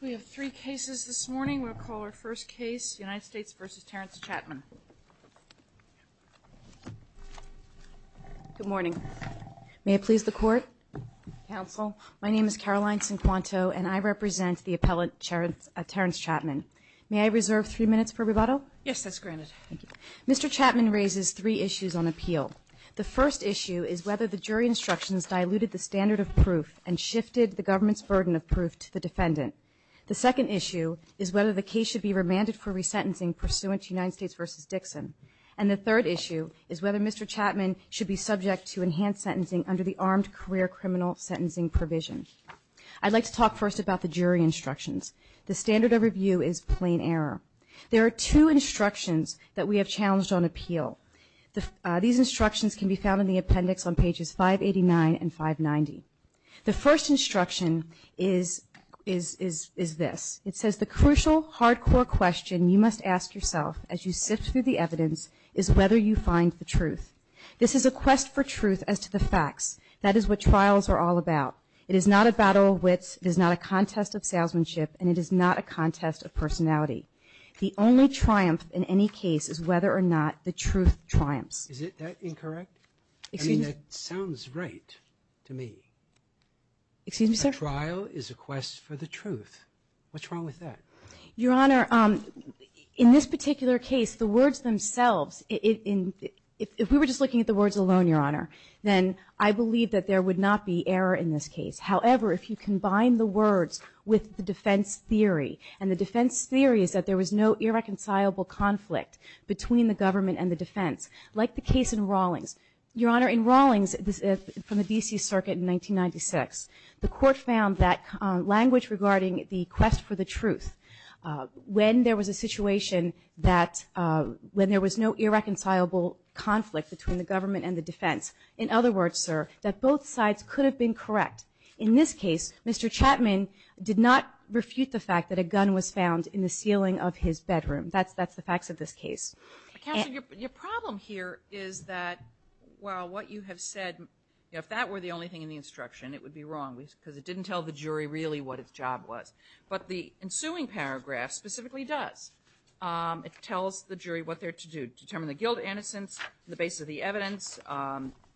We have three cases this morning. We'll call our first case, United States v. Terrence Chatman. Good morning. May it please the Court? Counsel. My name is Caroline Cinquanto, and I represent the appellate Terrence Chatman. May I reserve three minutes for rebuttal? Yes, that's granted. Thank you. Mr. Chatman raises three issues on appeal. The first issue is whether the jury instructions diluted the standard of proof and shifted the government's burden of proof to the defendant. The second issue is whether the case should be remanded for resentencing pursuant to United States v. Dixon. And the third issue is whether Mr. Chatman should be subject to enhanced sentencing under the armed career criminal sentencing provision. I'd like to talk first about the jury instructions. The standard of review is plain error. There are two instructions that we have challenged on appeal. These instructions can be found in the appendix on pages 589 and 590. The first instruction is this. It says the crucial, hardcore question you must ask yourself as you sift through the evidence is whether you find the truth. This is a quest for truth as to the facts. That is what trials are all about. It is not a battle of wits. It is not a contest of salesmanship. And it is not a contest of personality. The only triumph in any case is whether or not the truth triumphs. Is that incorrect? Excuse me? I mean, that sounds right to me. Excuse me, sir? A trial is a quest for the truth. What's wrong with that? Your Honor, in this particular case, the words themselves, if we were just looking at the words alone, Your Honor, then I believe that there would not be error in this case. However, if you combine the words with the defense theory, and the defense theory is that there was no irreconcilable conflict between the government and the defense, like the case in Rawlings. Your Honor, in Rawlings from the D.C. Circuit in 1996, the court found that language regarding the quest for the truth, when there was a situation that when there was no irreconcilable conflict between the government and the defense, in other words, sir, that both sides could have been correct. In this case, Mr. Chapman did not refute the fact that a gun was found in the ceiling of his bedroom. That's the facts of this case. Counsel, your problem here is that while what you have said, if that were the only thing in the instruction, it would be wrong, because it didn't tell the jury really what its job was. But the ensuing paragraph specifically does. It tells the jury what they're to do, determine the guilt or innocence, the basis of the evidence,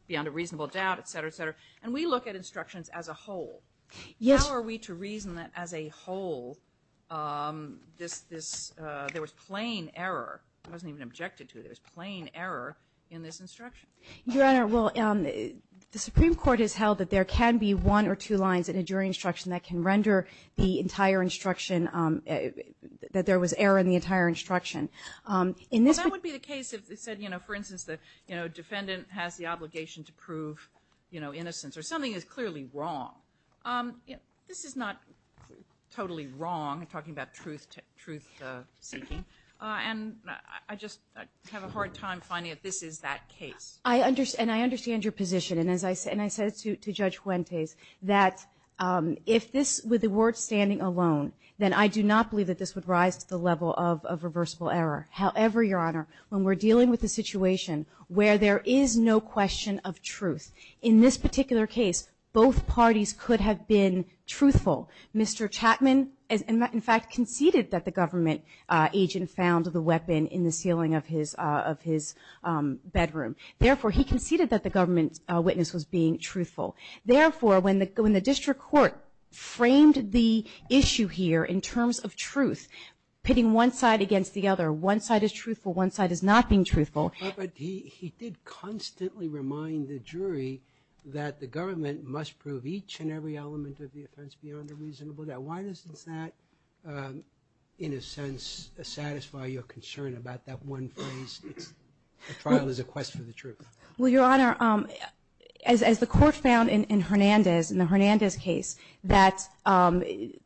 beyond a reasonable doubt, et cetera, et cetera. And we look at instructions as a whole. How are we to reason that as a whole there was plain error? It wasn't even objected to. There was plain error in this instruction. Your Honor, well, the Supreme Court has held that there can be one or two lines in a jury instruction that can render the entire instruction, that there was error in the entire instruction. Well, that would be the case if it said, you know, for instance, the defendant has the obligation to prove, you know, innocence, or something is clearly wrong. This is not totally wrong, talking about truth-seeking. And I just have a hard time finding that this is that case. And I understand your position. And I said to Judge Fuentes that if this were the ward standing alone, then I do not believe that this would rise to the level of reversible error. However, Your Honor, when we're dealing with a situation where there is no question of truth, in this particular case both parties could have been truthful. Mr. Chapman, in fact, conceded that the government agent found the weapon in the ceiling of his bedroom. Therefore, he conceded that the government witness was being truthful. Therefore, when the district court framed the issue here in terms of truth, it's pitting one side against the other. One side is truthful. One side is not being truthful. But he did constantly remind the jury that the government must prove each and every element of the offense beyond a reasonable doubt. Why does that, in a sense, satisfy your concern about that one phrase, the trial is a quest for the truth? Well, Your Honor, as the Court found in Hernandez, in the Hernandez case, that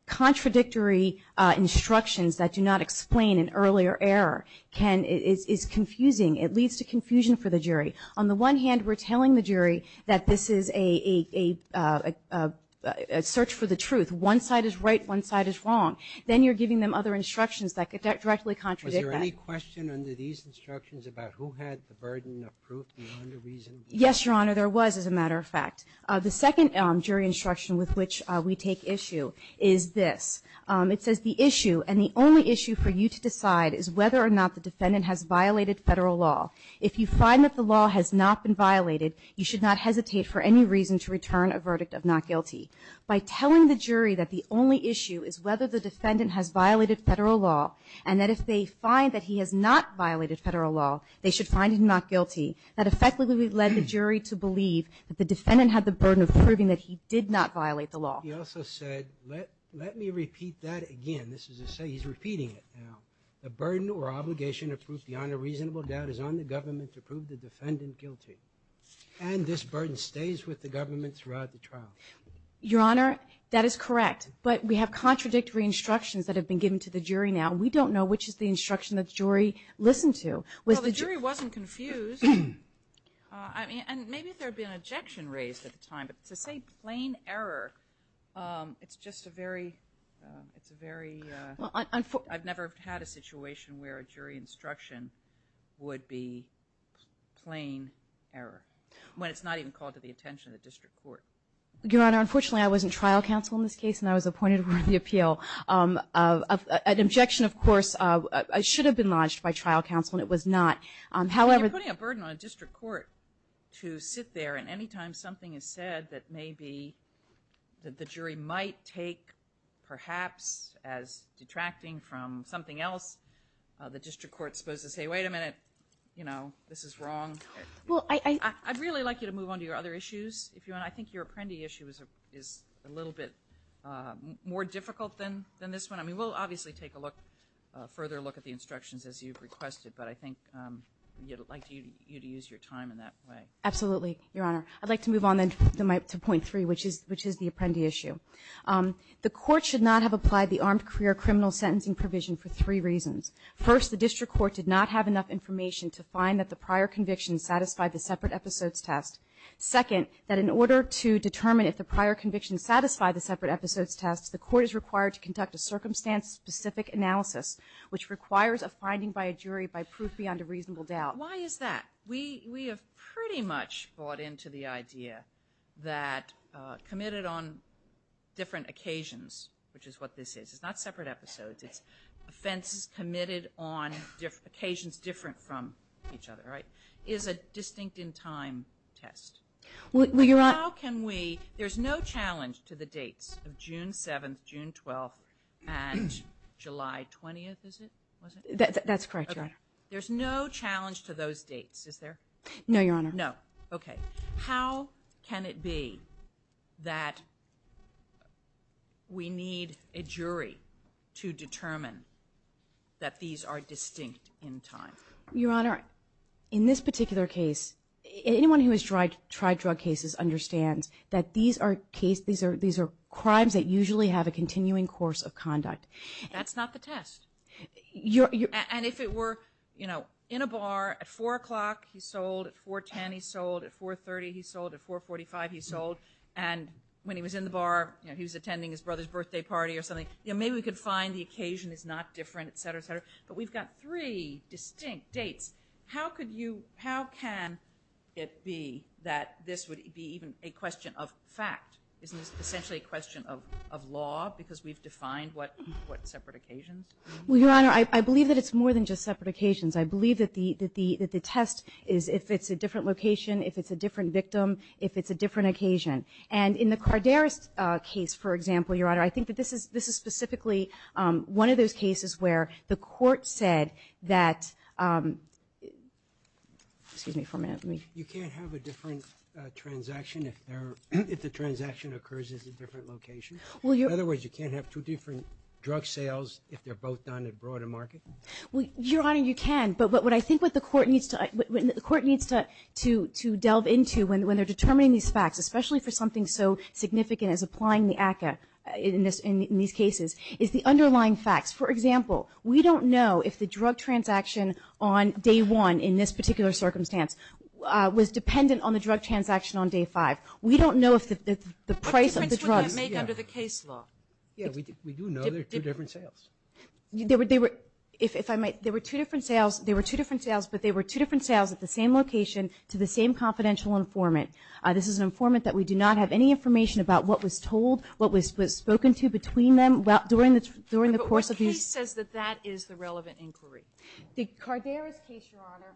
contradictory instructions that do not explain an earlier error is confusing. It leads to confusion for the jury. On the one hand, we're telling the jury that this is a search for the truth. One side is right, one side is wrong. Then you're giving them other instructions that directly contradict that. Was there any question under these instructions about who had the burden of proof beyond a reasonable doubt? Yes, Your Honor, there was, as a matter of fact. The second jury instruction with which we take issue is this. It says, The issue, and the only issue for you to decide, is whether or not the defendant has violated federal law. If you find that the law has not been violated, you should not hesitate for any reason to return a verdict of not guilty. By telling the jury that the only issue is whether the defendant has violated federal law and that if they find that he has not violated federal law, they should find him not guilty, that effectively led the jury to believe that the defendant had the burden of proving that he did not violate the law. He also said, let me repeat that again. This is to say he's repeating it now. The burden or obligation to prove beyond a reasonable doubt is on the government to prove the defendant guilty. And this burden stays with the government throughout the trial. Your Honor, that is correct. But we have contradictory instructions that have been given to the jury now. We don't know which is the instruction that the jury listened to. Well, the jury wasn't confused. And maybe there had been an objection raised at the time, but to say plain error, it's just a very, it's a very, I've never had a situation where a jury instruction would be plain error when it's not even called to the attention of the district court. Your Honor, unfortunately I was in trial counsel in this case and I was appointed over the appeal. An objection, of course, should have been lodged by trial counsel and it was not. I mean, you're putting a burden on a district court to sit there and any time something is said that maybe the jury might take perhaps as detracting from something else, the district court is supposed to say, wait a minute, you know, this is wrong. I'd really like you to move on to your other issues, if you want. I think your Apprendi issue is a little bit more difficult than this one. I mean, we'll obviously take a look, a further look at the instructions as you've requested, but I think I'd like you to use your time in that way. Absolutely, Your Honor. I'd like to move on to point three, which is the Apprendi issue. The court should not have applied the armed career criminal sentencing provision for three reasons. First, the district court did not have enough information to find that the prior conviction satisfied the separate episodes test. Second, that in order to determine if the prior conviction satisfied the separate episodes test, the court is required to conduct a circumstance-specific analysis, which requires a finding by a jury by proof beyond a reasonable doubt. Why is that? We have pretty much bought into the idea that committed on different occasions, which is what this is. It's not separate episodes. It's offenses committed on occasions different from each other, right, is a distinct in time test. There's no challenge to the dates of June 7th, June 12th, and July 20th, is it? That's correct, Your Honor. There's no challenge to those dates, is there? No, Your Honor. No, okay. How can it be that we need a jury to determine that these are distinct in time? Your Honor, in this particular case, anyone who has tried drug cases understands that these are crimes that usually have a continuing course of conduct. That's not the test. And if it were, you know, in a bar at 4 o'clock, he sold. At 4.10, he sold. At 4.30, he sold. At 4.45, he sold. And when he was in the bar, you know, he was attending his brother's birthday party or something, you know, maybe we could find the occasion is not different, et cetera, et cetera. But we've got three distinct dates. How can it be that this would be even a question of fact? Isn't this essentially a question of law because we've defined what separate occasions? Well, Your Honor, I believe that it's more than just separate occasions. I believe that the test is if it's a different location, if it's a different victim, if it's a different occasion. And in the Cardarest case, for example, Your Honor, I think that this is specifically one of those cases where the court said that, excuse me for a minute. You can't have a different transaction if the transaction occurs at a different location? In other words, you can't have two different drug sales if they're both done at a broader market? Well, Your Honor, you can. But what I think the court needs to delve into when they're determining these facts, especially for something so significant as applying the ACCA in these cases, is the underlying facts. For example, we don't know if the drug transaction on day one in this particular circumstance was dependent on the drug transaction on day five. We don't know if the price of the drugs. What difference would that make under the case law? We do know they're two different sales. They were two different sales, but they were two different sales at the same location to the same confidential informant. This is an informant that we do not have any information about what was told, what was spoken to between them during the course of these. But the case says that that is the relevant inquiry. The Carderas case, Your Honor,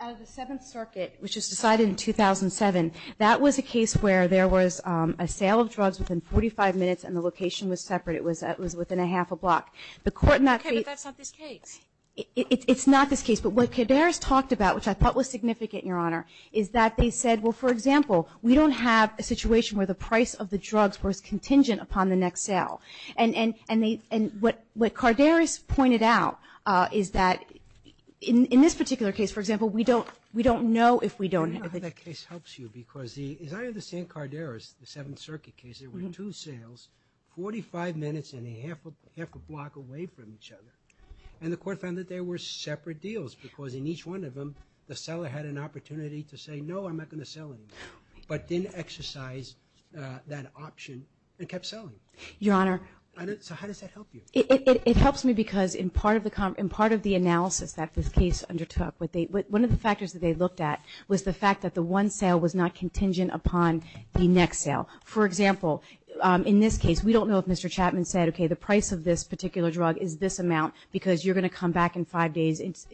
out of the Seventh Circuit, which was decided in 2007, that was a case where there was a sale of drugs within 45 minutes and the location was separate. It was within a half a block. Okay, but that's not this case. It's not this case. But what Carderas talked about, which I thought was significant, Your Honor, is that they said, well, for example, we don't have a situation where the price of the drugs was contingent upon the next sale. And what Carderas pointed out is that in this particular case, for example, we don't know if we don't have a case. I don't know how that case helps you, because as I understand Carderas, the Seventh Circuit case, there were two sales 45 minutes and a half a block away from each other. And the court found that there were separate deals because in each one of them, the seller had an opportunity to say, no, I'm not going to sell it, but didn't exercise that option and kept selling. Your Honor. So how does that help you? It helps me because in part of the analysis that this case undertook, one of the factors that they looked at was the fact that the one sale was not contingent upon the next sale. For example, in this case, we don't know if Mr. Chapman said, okay, the price of this particular drug is this amount because you're going to come back in five days and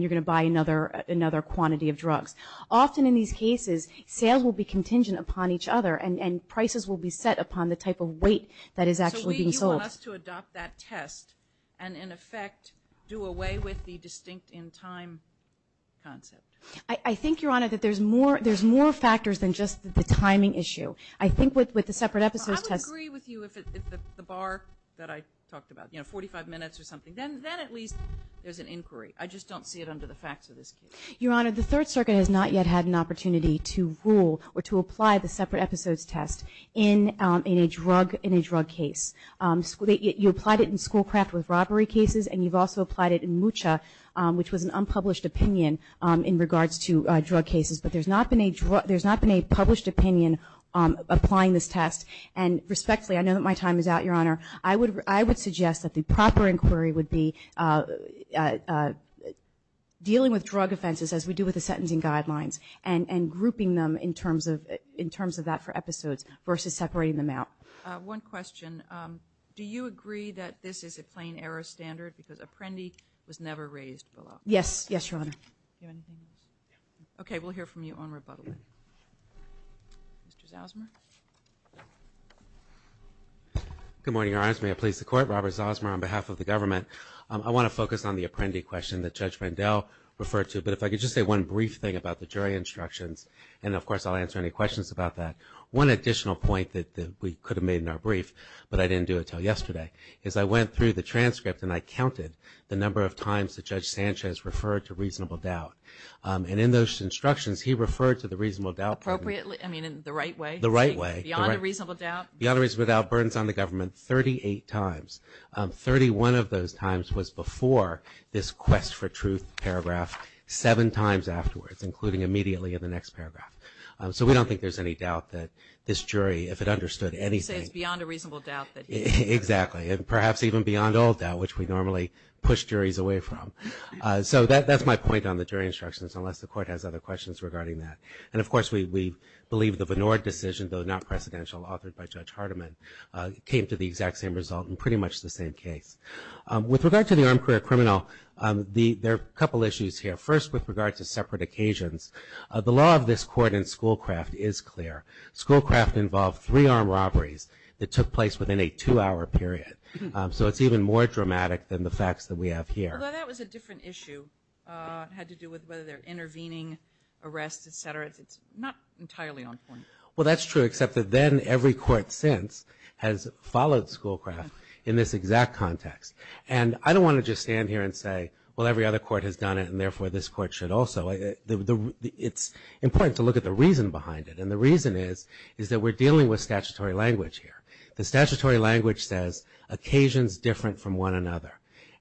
you're going to buy another quantity of drugs. Often in these cases, sales will be contingent upon each other, and prices will be set upon the type of weight that is actually being sold. So you want us to adopt that test and, in effect, do away with the distinct in time concept? I think, Your Honor, that there's more factors than just the timing issue. I think with the separate episodes test – I agree with you if the bar that I talked about, you know, 45 minutes or something, then at least there's an inquiry. I just don't see it under the facts of this case. Your Honor, the Third Circuit has not yet had an opportunity to rule or to apply the separate episodes test in a drug case. You applied it in Schoolcraft with robbery cases, and you've also applied it in Mucha, which was an unpublished opinion in regards to drug cases. But there's not been a published opinion applying this test. And respectfully, I know that my time is out, Your Honor. I would suggest that the proper inquiry would be dealing with drug offenses as we do with the sentencing guidelines and grouping them in terms of that for episodes versus separating them out. One question. Do you agree that this is a plain error standard because Apprendi was never raised below? Yes. Yes, Your Honor. Do you have anything else? Okay. We'll hear from you on rebuttal. Mr. Zosmer. Good morning, Your Honors. May it please the Court. Robert Zosmer on behalf of the government. I want to focus on the Apprendi question that Judge Rendell referred to, but if I could just say one brief thing about the jury instructions, and of course I'll answer any questions about that. One additional point that we could have made in our brief, but I didn't do it until yesterday, is I went through the transcript and I counted the number of times that Judge Sanchez referred to reasonable doubt. And in those instructions, he referred to the reasonable doubt. Appropriately? I mean, in the right way? The right way. Beyond a reasonable doubt? Beyond a reasonable doubt, burdens on the government 38 times. Thirty-one of those times was before this quest for truth paragraph, seven times afterwards, including immediately in the next paragraph. So we don't think there's any doubt that this jury, if it understood anything. You say it's beyond a reasonable doubt. Exactly. And perhaps even beyond all doubt, which we normally push juries away from. So that's my point on the jury instructions, unless the court has other questions regarding that. And, of course, we believe the Benord decision, though not precedential, authored by Judge Hardiman, came to the exact same result in pretty much the same case. With regard to the armed career criminal, there are a couple issues here. First, with regard to separate occasions, the law of this court in Schoolcraft is clear. Schoolcraft involved three armed robberies that took place within a two-hour period. So it's even more dramatic than the facts that we have here. Although that was a different issue. It had to do with whether they're intervening, arrest, et cetera. It's not entirely on point. Well, that's true, except that then every court since has followed Schoolcraft in this exact context. And I don't want to just stand here and say, well, every other court has done it, and therefore this court should also. It's important to look at the reason behind it. And the reason is that we're dealing with statutory language here. The statutory language says, occasions different from one another.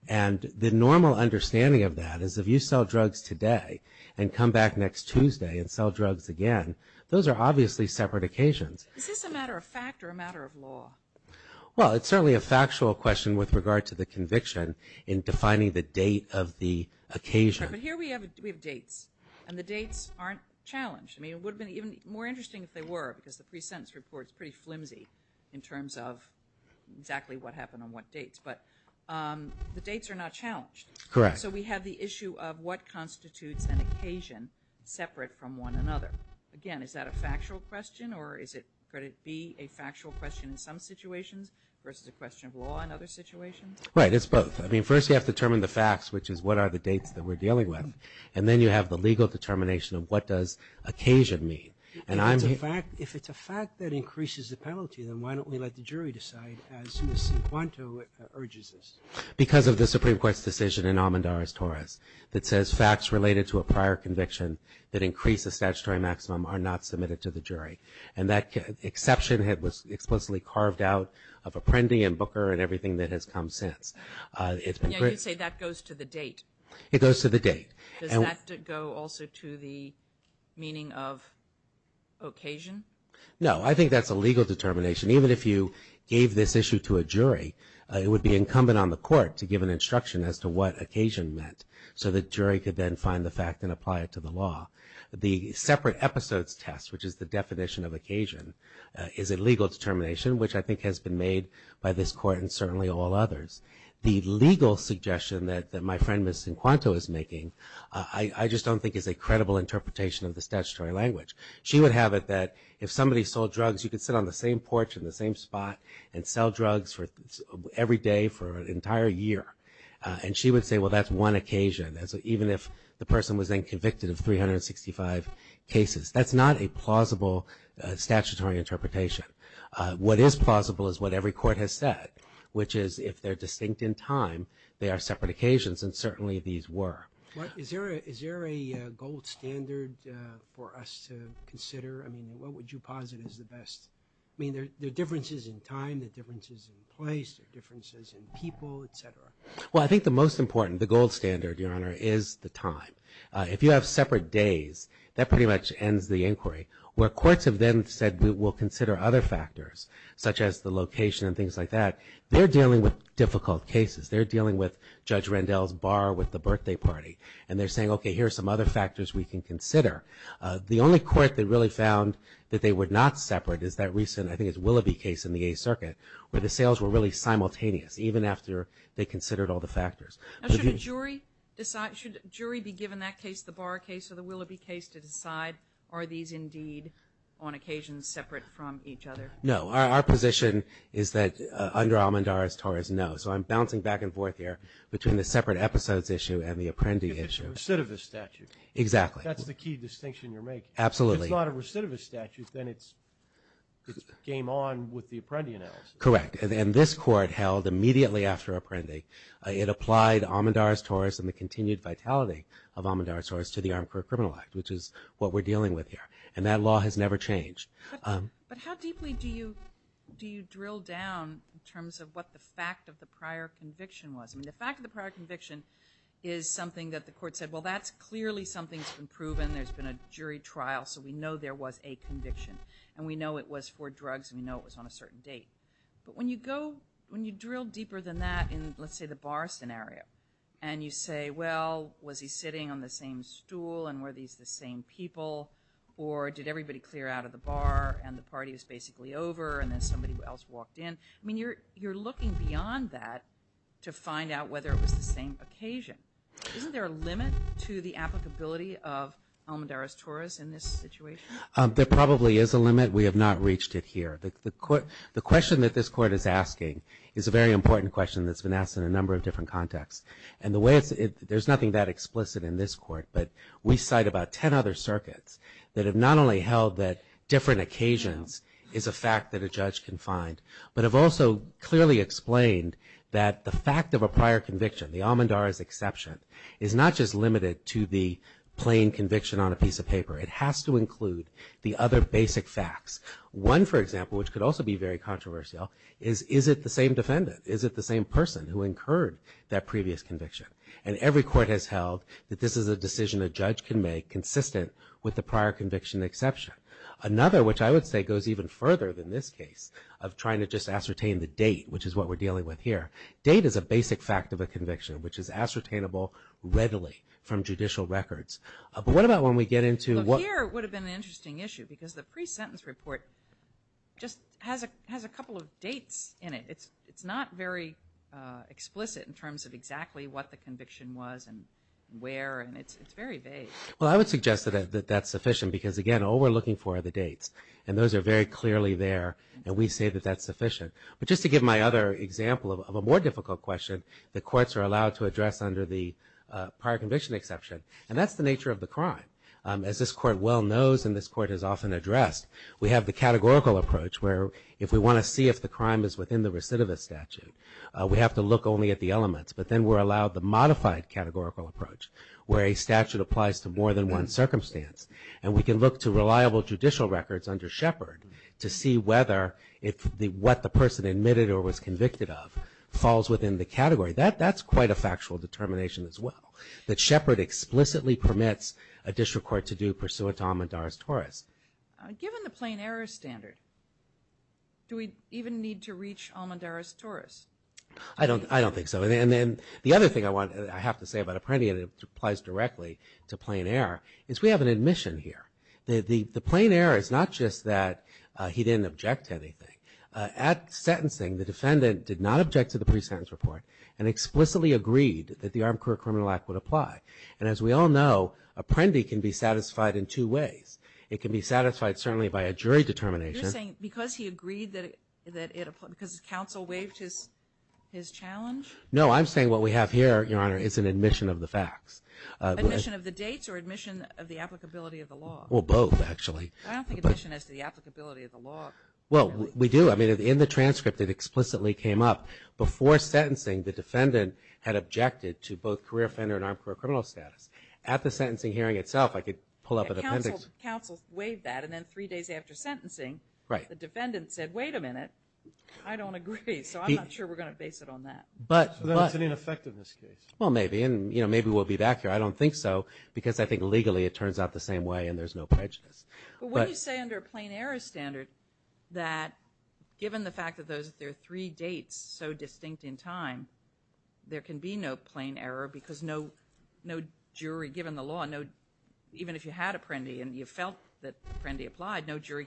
And the normal understanding of that is if you sell drugs today and come back next Tuesday and sell drugs again, those are obviously separate occasions. Is this a matter of fact or a matter of law? Well, it's certainly a factual question with regard to the conviction in defining the date of the occasion. But here we have dates, and the dates aren't challenged. I mean, it would have been even more interesting if they were, because the pre-sentence report is pretty flimsy in terms of exactly what happened on what dates. But the dates are not challenged. Correct. So we have the issue of what constitutes an occasion separate from one another. Again, is that a factual question, or could it be a factual question in some situations versus a question of law in other situations? Right, it's both. I mean, first you have to determine the facts, which is what are the dates that we're dealing with. And then you have the legal determination of what does occasion mean. If it's a fact that increases the penalty, then why don't we let the jury decide as Ms. Cuanto urges us? Because of the Supreme Court's decision in Amandaris-Torres that says facts related to a prior conviction that increase the statutory maximum are not submitted to the jury. And that exception was explicitly carved out of Apprendi and Booker and everything that has come since. You say that goes to the date. It goes to the date. Does that go also to the meaning of occasion? No, I think that's a legal determination. Even if you gave this issue to a jury, it would be incumbent on the court to give an instruction as to what occasion meant so the jury could then find the fact and apply it to the law. The separate episodes test, which is the definition of occasion, is a legal determination, which I think has been made by this court and certainly all others. The legal suggestion that my friend Ms. Cuanto is making I just don't think is a credible interpretation of the statutory language. She would have it that if somebody sold drugs, you could sit on the same porch in the same spot and sell drugs every day for an entire year. And she would say, well, that's one occasion, even if the person was then convicted of 365 cases. That's not a plausible statutory interpretation. What is plausible is what every court has said, which is if they're distinct in time, they are separate occasions, and certainly these were. Is there a gold standard for us to consider? I mean, what would you posit as the best? I mean, there are differences in time, there are differences in place, there are differences in people, et cetera. Well, I think the most important, the gold standard, Your Honor, is the time. If you have separate days, that pretty much ends the inquiry. Where courts have then said we'll consider other factors, such as the location and things like that, they're dealing with difficult cases. They're dealing with Judge Rendell's bar with the birthday party, and they're saying, okay, here are some other factors we can consider. The only court that really found that they were not separate is that recent, I think it's Willoughby case in the Eighth Circuit, where the sales were really simultaneous, even after they considered all the factors. Now, should a jury decide, should a jury be given that case, the Bar case or the Willoughby case, to decide, are these indeed on occasion separate from each other? No. Our position is that under Almandar, as Taurus knows. So I'm bouncing back and forth here between the separate episodes issue and the Apprendi issue. It's a recidivist statute. Exactly. That's the key distinction you're making. Absolutely. If it's not a recidivist statute, then it's game on with the Apprendi analysis. Correct. And this court held immediately after Apprendi, it applied Almandar as Taurus and the continued vitality of Almandar as Taurus to the Armed Career Criminal Act, which is what we're dealing with here. And that law has never changed. But how deeply do you drill down in terms of what the fact of the prior conviction was? I mean, the fact of the prior conviction is something that the court said, well, that's clearly something that's been proven. There's been a jury trial, so we know there was a conviction. And we know it was for drugs and we know it was on a certain date. But when you drill deeper than that in, let's say, the Bar scenario, and you say, well, was he sitting on the same stool and were these the same people or did everybody clear out of the bar and the party was basically over and then somebody else walked in? I mean, you're looking beyond that to find out whether it was the same occasion. Isn't there a limit to the applicability of Almandar as Taurus in this situation? There probably is a limit. We have not reached it here. The question that this court is asking is a very important question that's been asked in a number of different contexts. And there's nothing that explicit in this court, but we cite about 10 other circuits that have not only held that different occasions is a fact that a judge can find, but have also clearly explained that the fact of a prior conviction, the Almandar as exception, is not just limited to the plain conviction on a piece of paper. It has to include the other basic facts. One, for example, which could also be very controversial, is, is it the same defendant? Is it the same person who incurred that previous conviction? And every court has held that this is a decision a judge can make consistent with the prior conviction exception. Another, which I would say goes even further than this case, of trying to just ascertain the date, which is what we're dealing with here. Date is a basic fact of a conviction, which is ascertainable readily from judicial records. But what about when we get into what- Well, here it would have been an interesting issue because the pre-sentence report just has a couple of dates in it. It's not very explicit in terms of exactly what the conviction was and where, and it's very vague. Well, I would suggest that that's sufficient because, again, all we're looking for are the dates, and those are very clearly there, and we say that that's sufficient. But just to give my other example of a more difficult question, the courts are allowed to address under the prior conviction exception, and that's the nature of the crime. As this court well knows and this court has often addressed, we have the categorical approach where if we want to see if the crime is within the recidivist statute, we have to look only at the elements. But then we're allowed the modified categorical approach where a statute applies to more than one circumstance, and we can look to reliable judicial records under Shepard to see whether what the person admitted or was convicted of falls within the category. That's quite a factual determination as well, that Shepard explicitly permits a district court to do pursuant to Almendar's torus. Given the plain error standard, do we even need to reach Almendar's torus? I don't think so. And then the other thing I have to say about Apprendi and it applies directly to plain error is we have an admission here. The plain error is not just that he didn't object to anything. At sentencing, the defendant did not object to the pre-sentence report and explicitly agreed that the Armed Career Criminal Act would apply. And as we all know, Apprendi can be satisfied in two ways. It can be satisfied certainly by a jury determination. You're saying because he agreed that it applies, because counsel waived his challenge? No, I'm saying what we have here, Your Honor, is an admission of the facts. Admission of the dates or admission of the applicability of the law? Well, both, actually. I don't think admission is the applicability of the law. Well, we do. I mean, in the transcript, it explicitly came up. Before sentencing, the defendant had objected to both career offender and armed career criminal status. At the sentencing hearing itself, I could pull up an appendix. Counsel waived that, and then three days after sentencing, the defendant said, wait a minute, I don't agree, so I'm not sure we're going to base it on that. So that has an effect in this case. Well, maybe, and maybe we'll be back here. I don't think so because I think legally it turns out the same way, and there's no prejudice. But when you say under a plain error standard that given the fact that there are three dates so distinct in time, there can be no plain error because no jury, given the law, even if you had Apprendi and you felt that Apprendi applied, no jury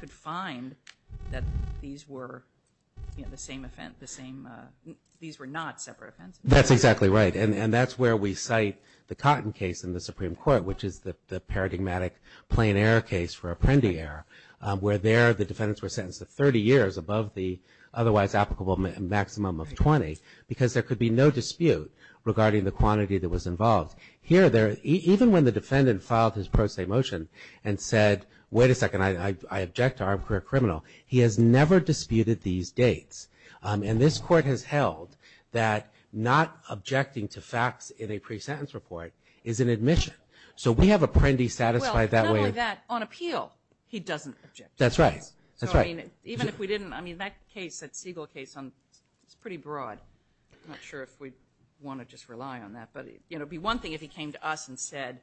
could find that these were not separate offenses. That's exactly right, and that's where we cite the Cotton case in the Supreme Court, which is the paradigmatic plain error case for Apprendi error, where there the defendants were sentenced to 30 years above the otherwise applicable maximum of 20 because there could be no dispute regarding the quantity that was involved. Here, even when the defendant filed his pro se motion and said, wait a second, I object to our criminal, he has never disputed these dates. And this Court has held that not objecting to facts in a pre-sentence report is an admission. So we have Apprendi satisfied that way. Well, not only that, on appeal he doesn't object. That's right. Even if we didn't, I mean, that case, that Siegel case, it's pretty broad. I'm not sure if we want to just rely on that. But it would be one thing if he came to us and said,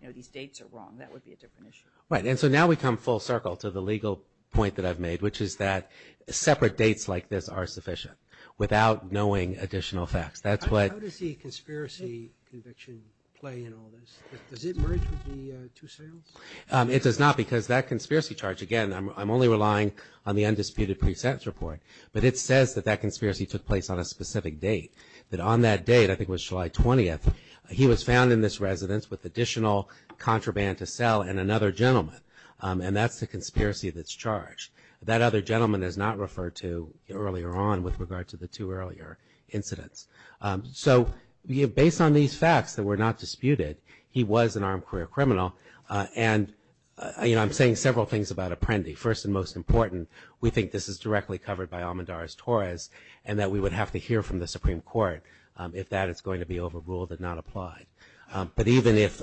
you know, these dates are wrong. That would be a different issue. Right, and so now we come full circle to the legal point that I've made, which is that separate dates like this are sufficient without knowing additional facts. How does the conspiracy conviction play in all this? Does it merge with the two sales? It does not because that conspiracy charge, again, I'm only relying on the undisputed pre-sentence report, but it says that that conspiracy took place on a specific date, that on that date, I think it was July 20th, he was found in this residence with additional contraband to sell and another gentleman. And that's the conspiracy that's charged. That other gentleman is not referred to earlier on with regard to the two earlier incidents. So based on these facts that were not disputed, he was an armed career criminal. And, you know, I'm saying several things about Apprendi. First and most important, we think this is directly covered by Almendarez-Torres and that we would have to hear from the Supreme Court if that is going to be overruled and not applied. But even if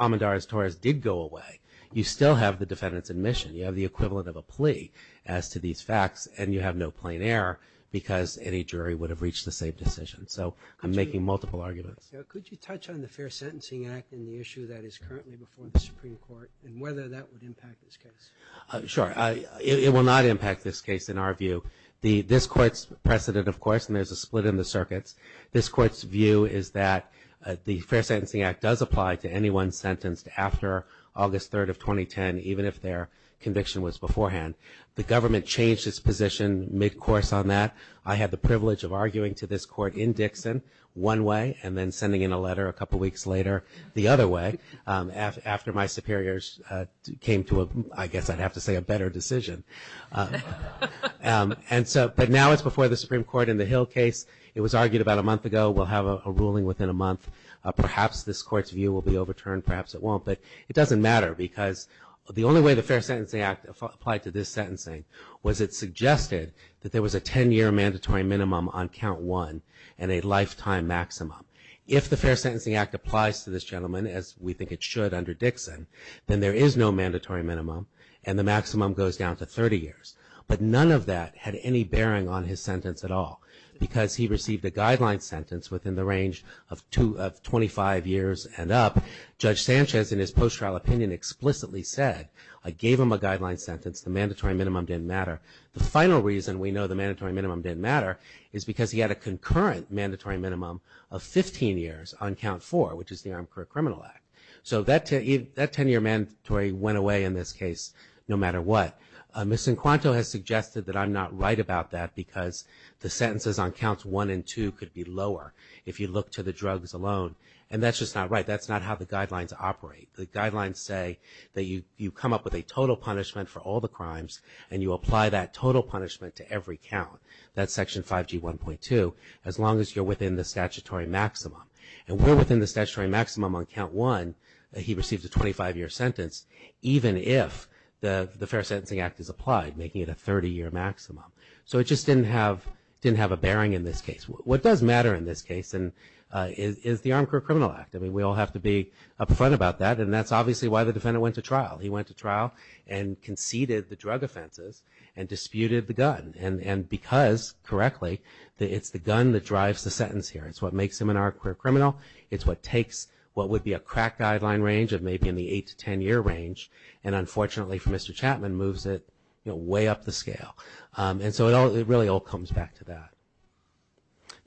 Almendarez-Torres did go away, you still have the defendant's admission. You have the equivalent of a plea as to these facts, and you have no plain error because any jury would have reached the same decision. So I'm making multiple arguments. Could you touch on the Fair Sentencing Act and the issue that is currently before the Supreme Court and whether that would impact this case? Sure. It will not impact this case in our view. This Court's precedent, of course, and there's a split in the circuits, this Court's view is that the Fair Sentencing Act does apply to anyone sentenced after August 3rd of 2010, even if their conviction was beforehand. The government changed its position mid-course on that. I had the privilege of arguing to this Court in Dixon one way and then sending in a letter a couple weeks later the other way after my superiors came to, I guess I'd have to say, a better decision. But now it's before the Supreme Court in the Hill case. It was argued about a month ago we'll have a ruling within a month. Perhaps this Court's view will be overturned, perhaps it won't, but it doesn't matter because the only way the Fair Sentencing Act applied to this sentencing was it suggested that there was a 10-year mandatory minimum on count one and a lifetime maximum. If the Fair Sentencing Act applies to this gentleman, as we think it should under Dixon, then there is no mandatory minimum and the maximum goes down to 30 years. But none of that had any bearing on his sentence at all because he received a guideline sentence within the range of 25 years and up. Judge Sanchez in his post-trial opinion explicitly said, I gave him a guideline sentence, the mandatory minimum didn't matter. The final reason we know the mandatory minimum didn't matter is because he had a concurrent mandatory minimum of 15 years on count four, which is the Armed Career Criminal Act. So that 10-year mandatory went away in this case no matter what. Ms. Sincuanto has suggested that I'm not right about that because the sentences on counts one and two could be lower if you look to the drugs alone. And that's just not right. That's not how the guidelines operate. The guidelines say that you come up with a total punishment for all the crimes and you apply that total punishment to every count, that's Section 5G1.2, as long as you're within the statutory maximum. And we're within the statutory maximum on count one. He received a 25-year sentence even if the Fair Sentencing Act is applied, making it a 30-year maximum. So it just didn't have a bearing in this case. What does matter in this case is the Armed Career Criminal Act. I mean, we all have to be upfront about that, and that's obviously why the defendant went to trial. He went to trial and conceded the drug offenses and disputed the gun. And because, correctly, it's the gun that drives the sentence here. It's what makes him an armed career criminal. It's what takes what would be a crack guideline range of maybe in the 8- to 10-year range, and unfortunately for Mr. Chapman moves it way up the scale. And so it really all comes back to that.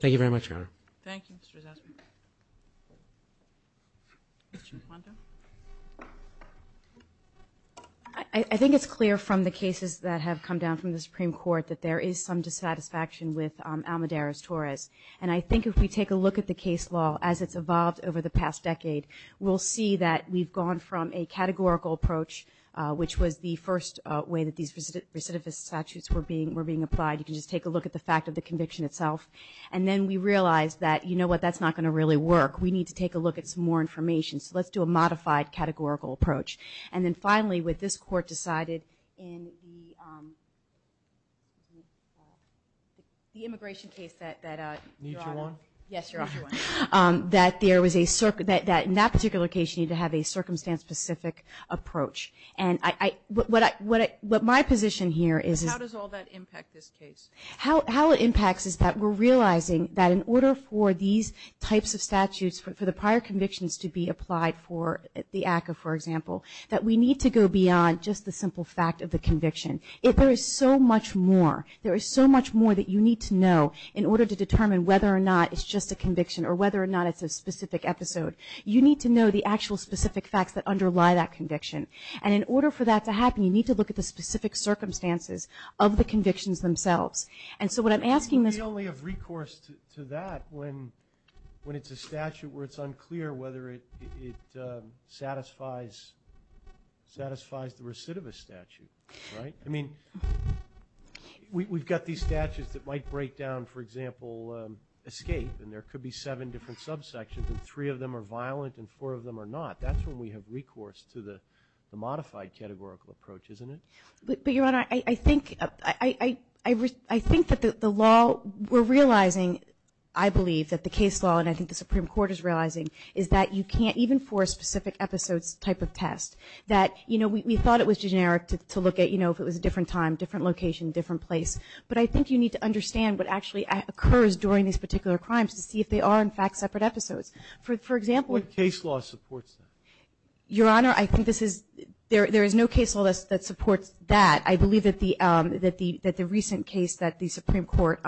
Thank you very much, Your Honor. Thank you, Mr. Zazary. Ms. Chimplanto. I think it's clear from the cases that have come down from the Supreme Court that there is some dissatisfaction with Almedares-Torres. And I think if we take a look at the case law as it's evolved over the past decade, we'll see that we've gone from a categorical approach, which was the first way that these recidivist statutes were being applied. You can just take a look at the fact of the conviction itself. And then we realize that, you know what, that's not going to really work. We need to take a look at some more information. So let's do a modified categorical approach. And then finally, with this court decided in the immigration case that you're on, that in that particular case you need to have a circumstance-specific approach. And what my position here is. How does all that impact this case? How it impacts is that we're realizing that in order for these types of statutes, for the prior convictions to be applied for the ACCA, for example, that we need to go beyond just the simple fact of the conviction. There is so much more. There is so much more that you need to know in order to determine whether or not it's just a conviction or whether or not it's a specific episode. You need to know the actual specific facts that underlie that conviction. And in order for that to happen, you need to look at the specific circumstances of the convictions themselves. And so what I'm asking is we only have recourse to that when it's a statute where it's unclear whether it satisfies the recidivist statute, right? I mean, we've got these statutes that might break down, for example, escape, and there could be seven different subsections and three of them are violent and four of them are not. That's when we have recourse to the modified categorical approach, isn't it? But, Your Honor, I think that the law we're realizing, I believe, that the case law, and I think the Supreme Court is realizing, is that you can't even force specific episodes type of test. That, you know, we thought it was generic to look at, you know, if it was a different time, different location, different place. But I think you need to understand what actually occurs during these particular crimes to see if they are, in fact, separate episodes. For example, What case law supports that? Your Honor, I think this is, there is no case law that supports that. I believe that the recent case that the Supreme Court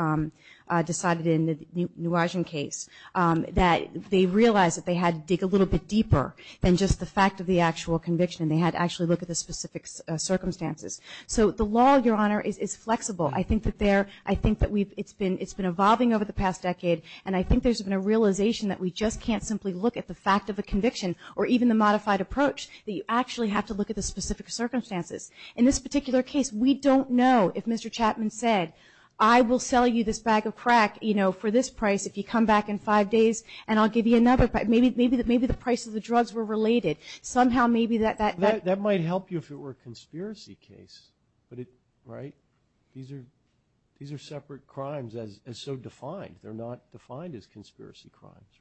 decided in the Nuagen case, that they realized that they had to dig a little bit deeper than just the fact of the actual conviction and they had to actually look at the specific circumstances. So the law, Your Honor, is flexible. I think that there, I think that we've, it's been evolving over the past decade and I think there's been a realization that we just can't simply look at the fact of a conviction or even the modified approach, that you actually have to look at the specific circumstances. In this particular case, we don't know if Mr. Chapman said, I will sell you this bag of crack, you know, for this price if you come back in five days and I'll give you another. Maybe the price of the drugs were related. Somehow maybe that, that, that. That might help you if it were a conspiracy case. But it, right? These are separate crimes as so defined. They're not defined as conspiracy crimes.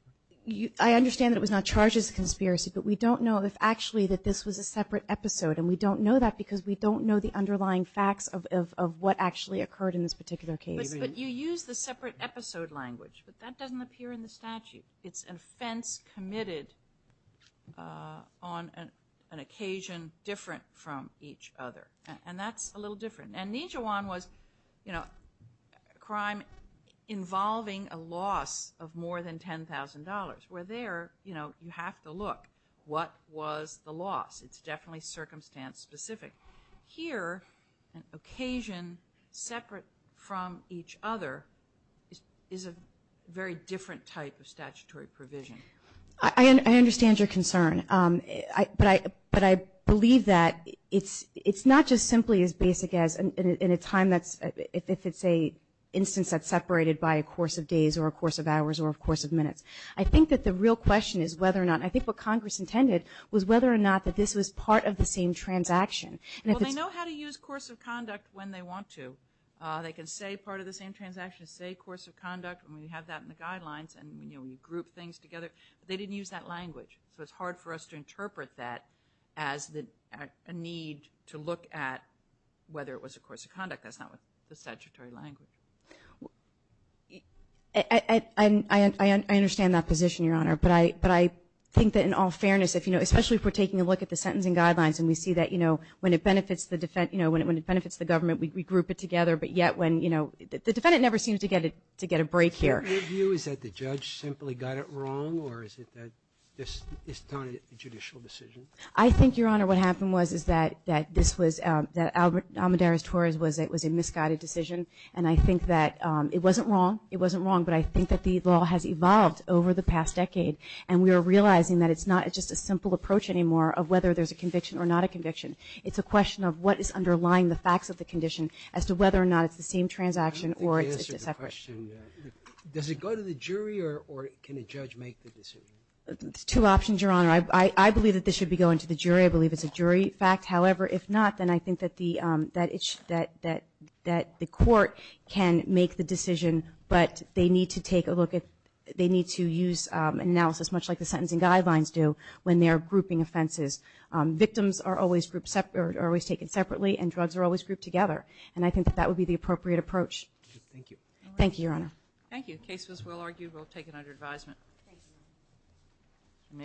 I understand that it was not charged as a conspiracy, but we don't know if actually that this was a separate episode and we don't know that because we don't know the underlying facts of what actually occurred in this particular case. But you use the separate episode language, but that doesn't appear in the statute. It's an offense committed on an occasion different from each other. And that's a little different. And Nijewan was, you know, a crime involving a loss of more than $10,000. Where there, you know, you have to look. What was the loss? It's definitely circumstance specific. Here, an occasion separate from each other is a very different type of statutory provision. I understand your concern. But I believe that it's not just simply as basic as in a time that's, if it's a instance that's separated by a course of days or a course of hours or a course of minutes. I think that the real question is whether or not, and I think what Congress intended was whether or not that this was part of the same transaction. Well, they know how to use course of conduct when they want to. They can say part of the same transaction, say course of conduct, and we have that in the guidelines and, you know, we group things together. But they didn't use that language. So it's hard for us to interpret that as a need to look at whether it was a course of conduct. That's not the statutory language. I understand that position, Your Honor. But I think that in all fairness, if, you know, especially if we're taking a look at the sentencing guidelines and we see that, you know, when it benefits the government, we group it together. But yet when, you know, the defendant never seems to get a break here. Your view is that the judge simply got it wrong or is it that it's not a judicial decision? I think, Your Honor, what happened was is that this was, that Almoderes-Torres was a misguided decision. And I think that it wasn't wrong, it wasn't wrong, but I think that the law has evolved over the past decade. And we are realizing that it's not just a simple approach anymore of whether there's a conviction or not a conviction. It's a question of what is underlying the facts of the condition as to whether or not it's the same transaction or it's a separate. Does it go to the jury or can a judge make the decision? There's two options, Your Honor. I believe that this should be going to the jury. I believe it's a jury fact. However, if not, then I think that the court can make the decision, but they need to take a look at, they need to use analysis much like the sentencing guidelines do when they're grouping offenses. Victims are always taken separately and drugs are always grouped together. And I think that that would be the appropriate approach. Thank you. Thank you, Your Honor. Thank you. The case was well argued. We'll take it under advisement. Thank you.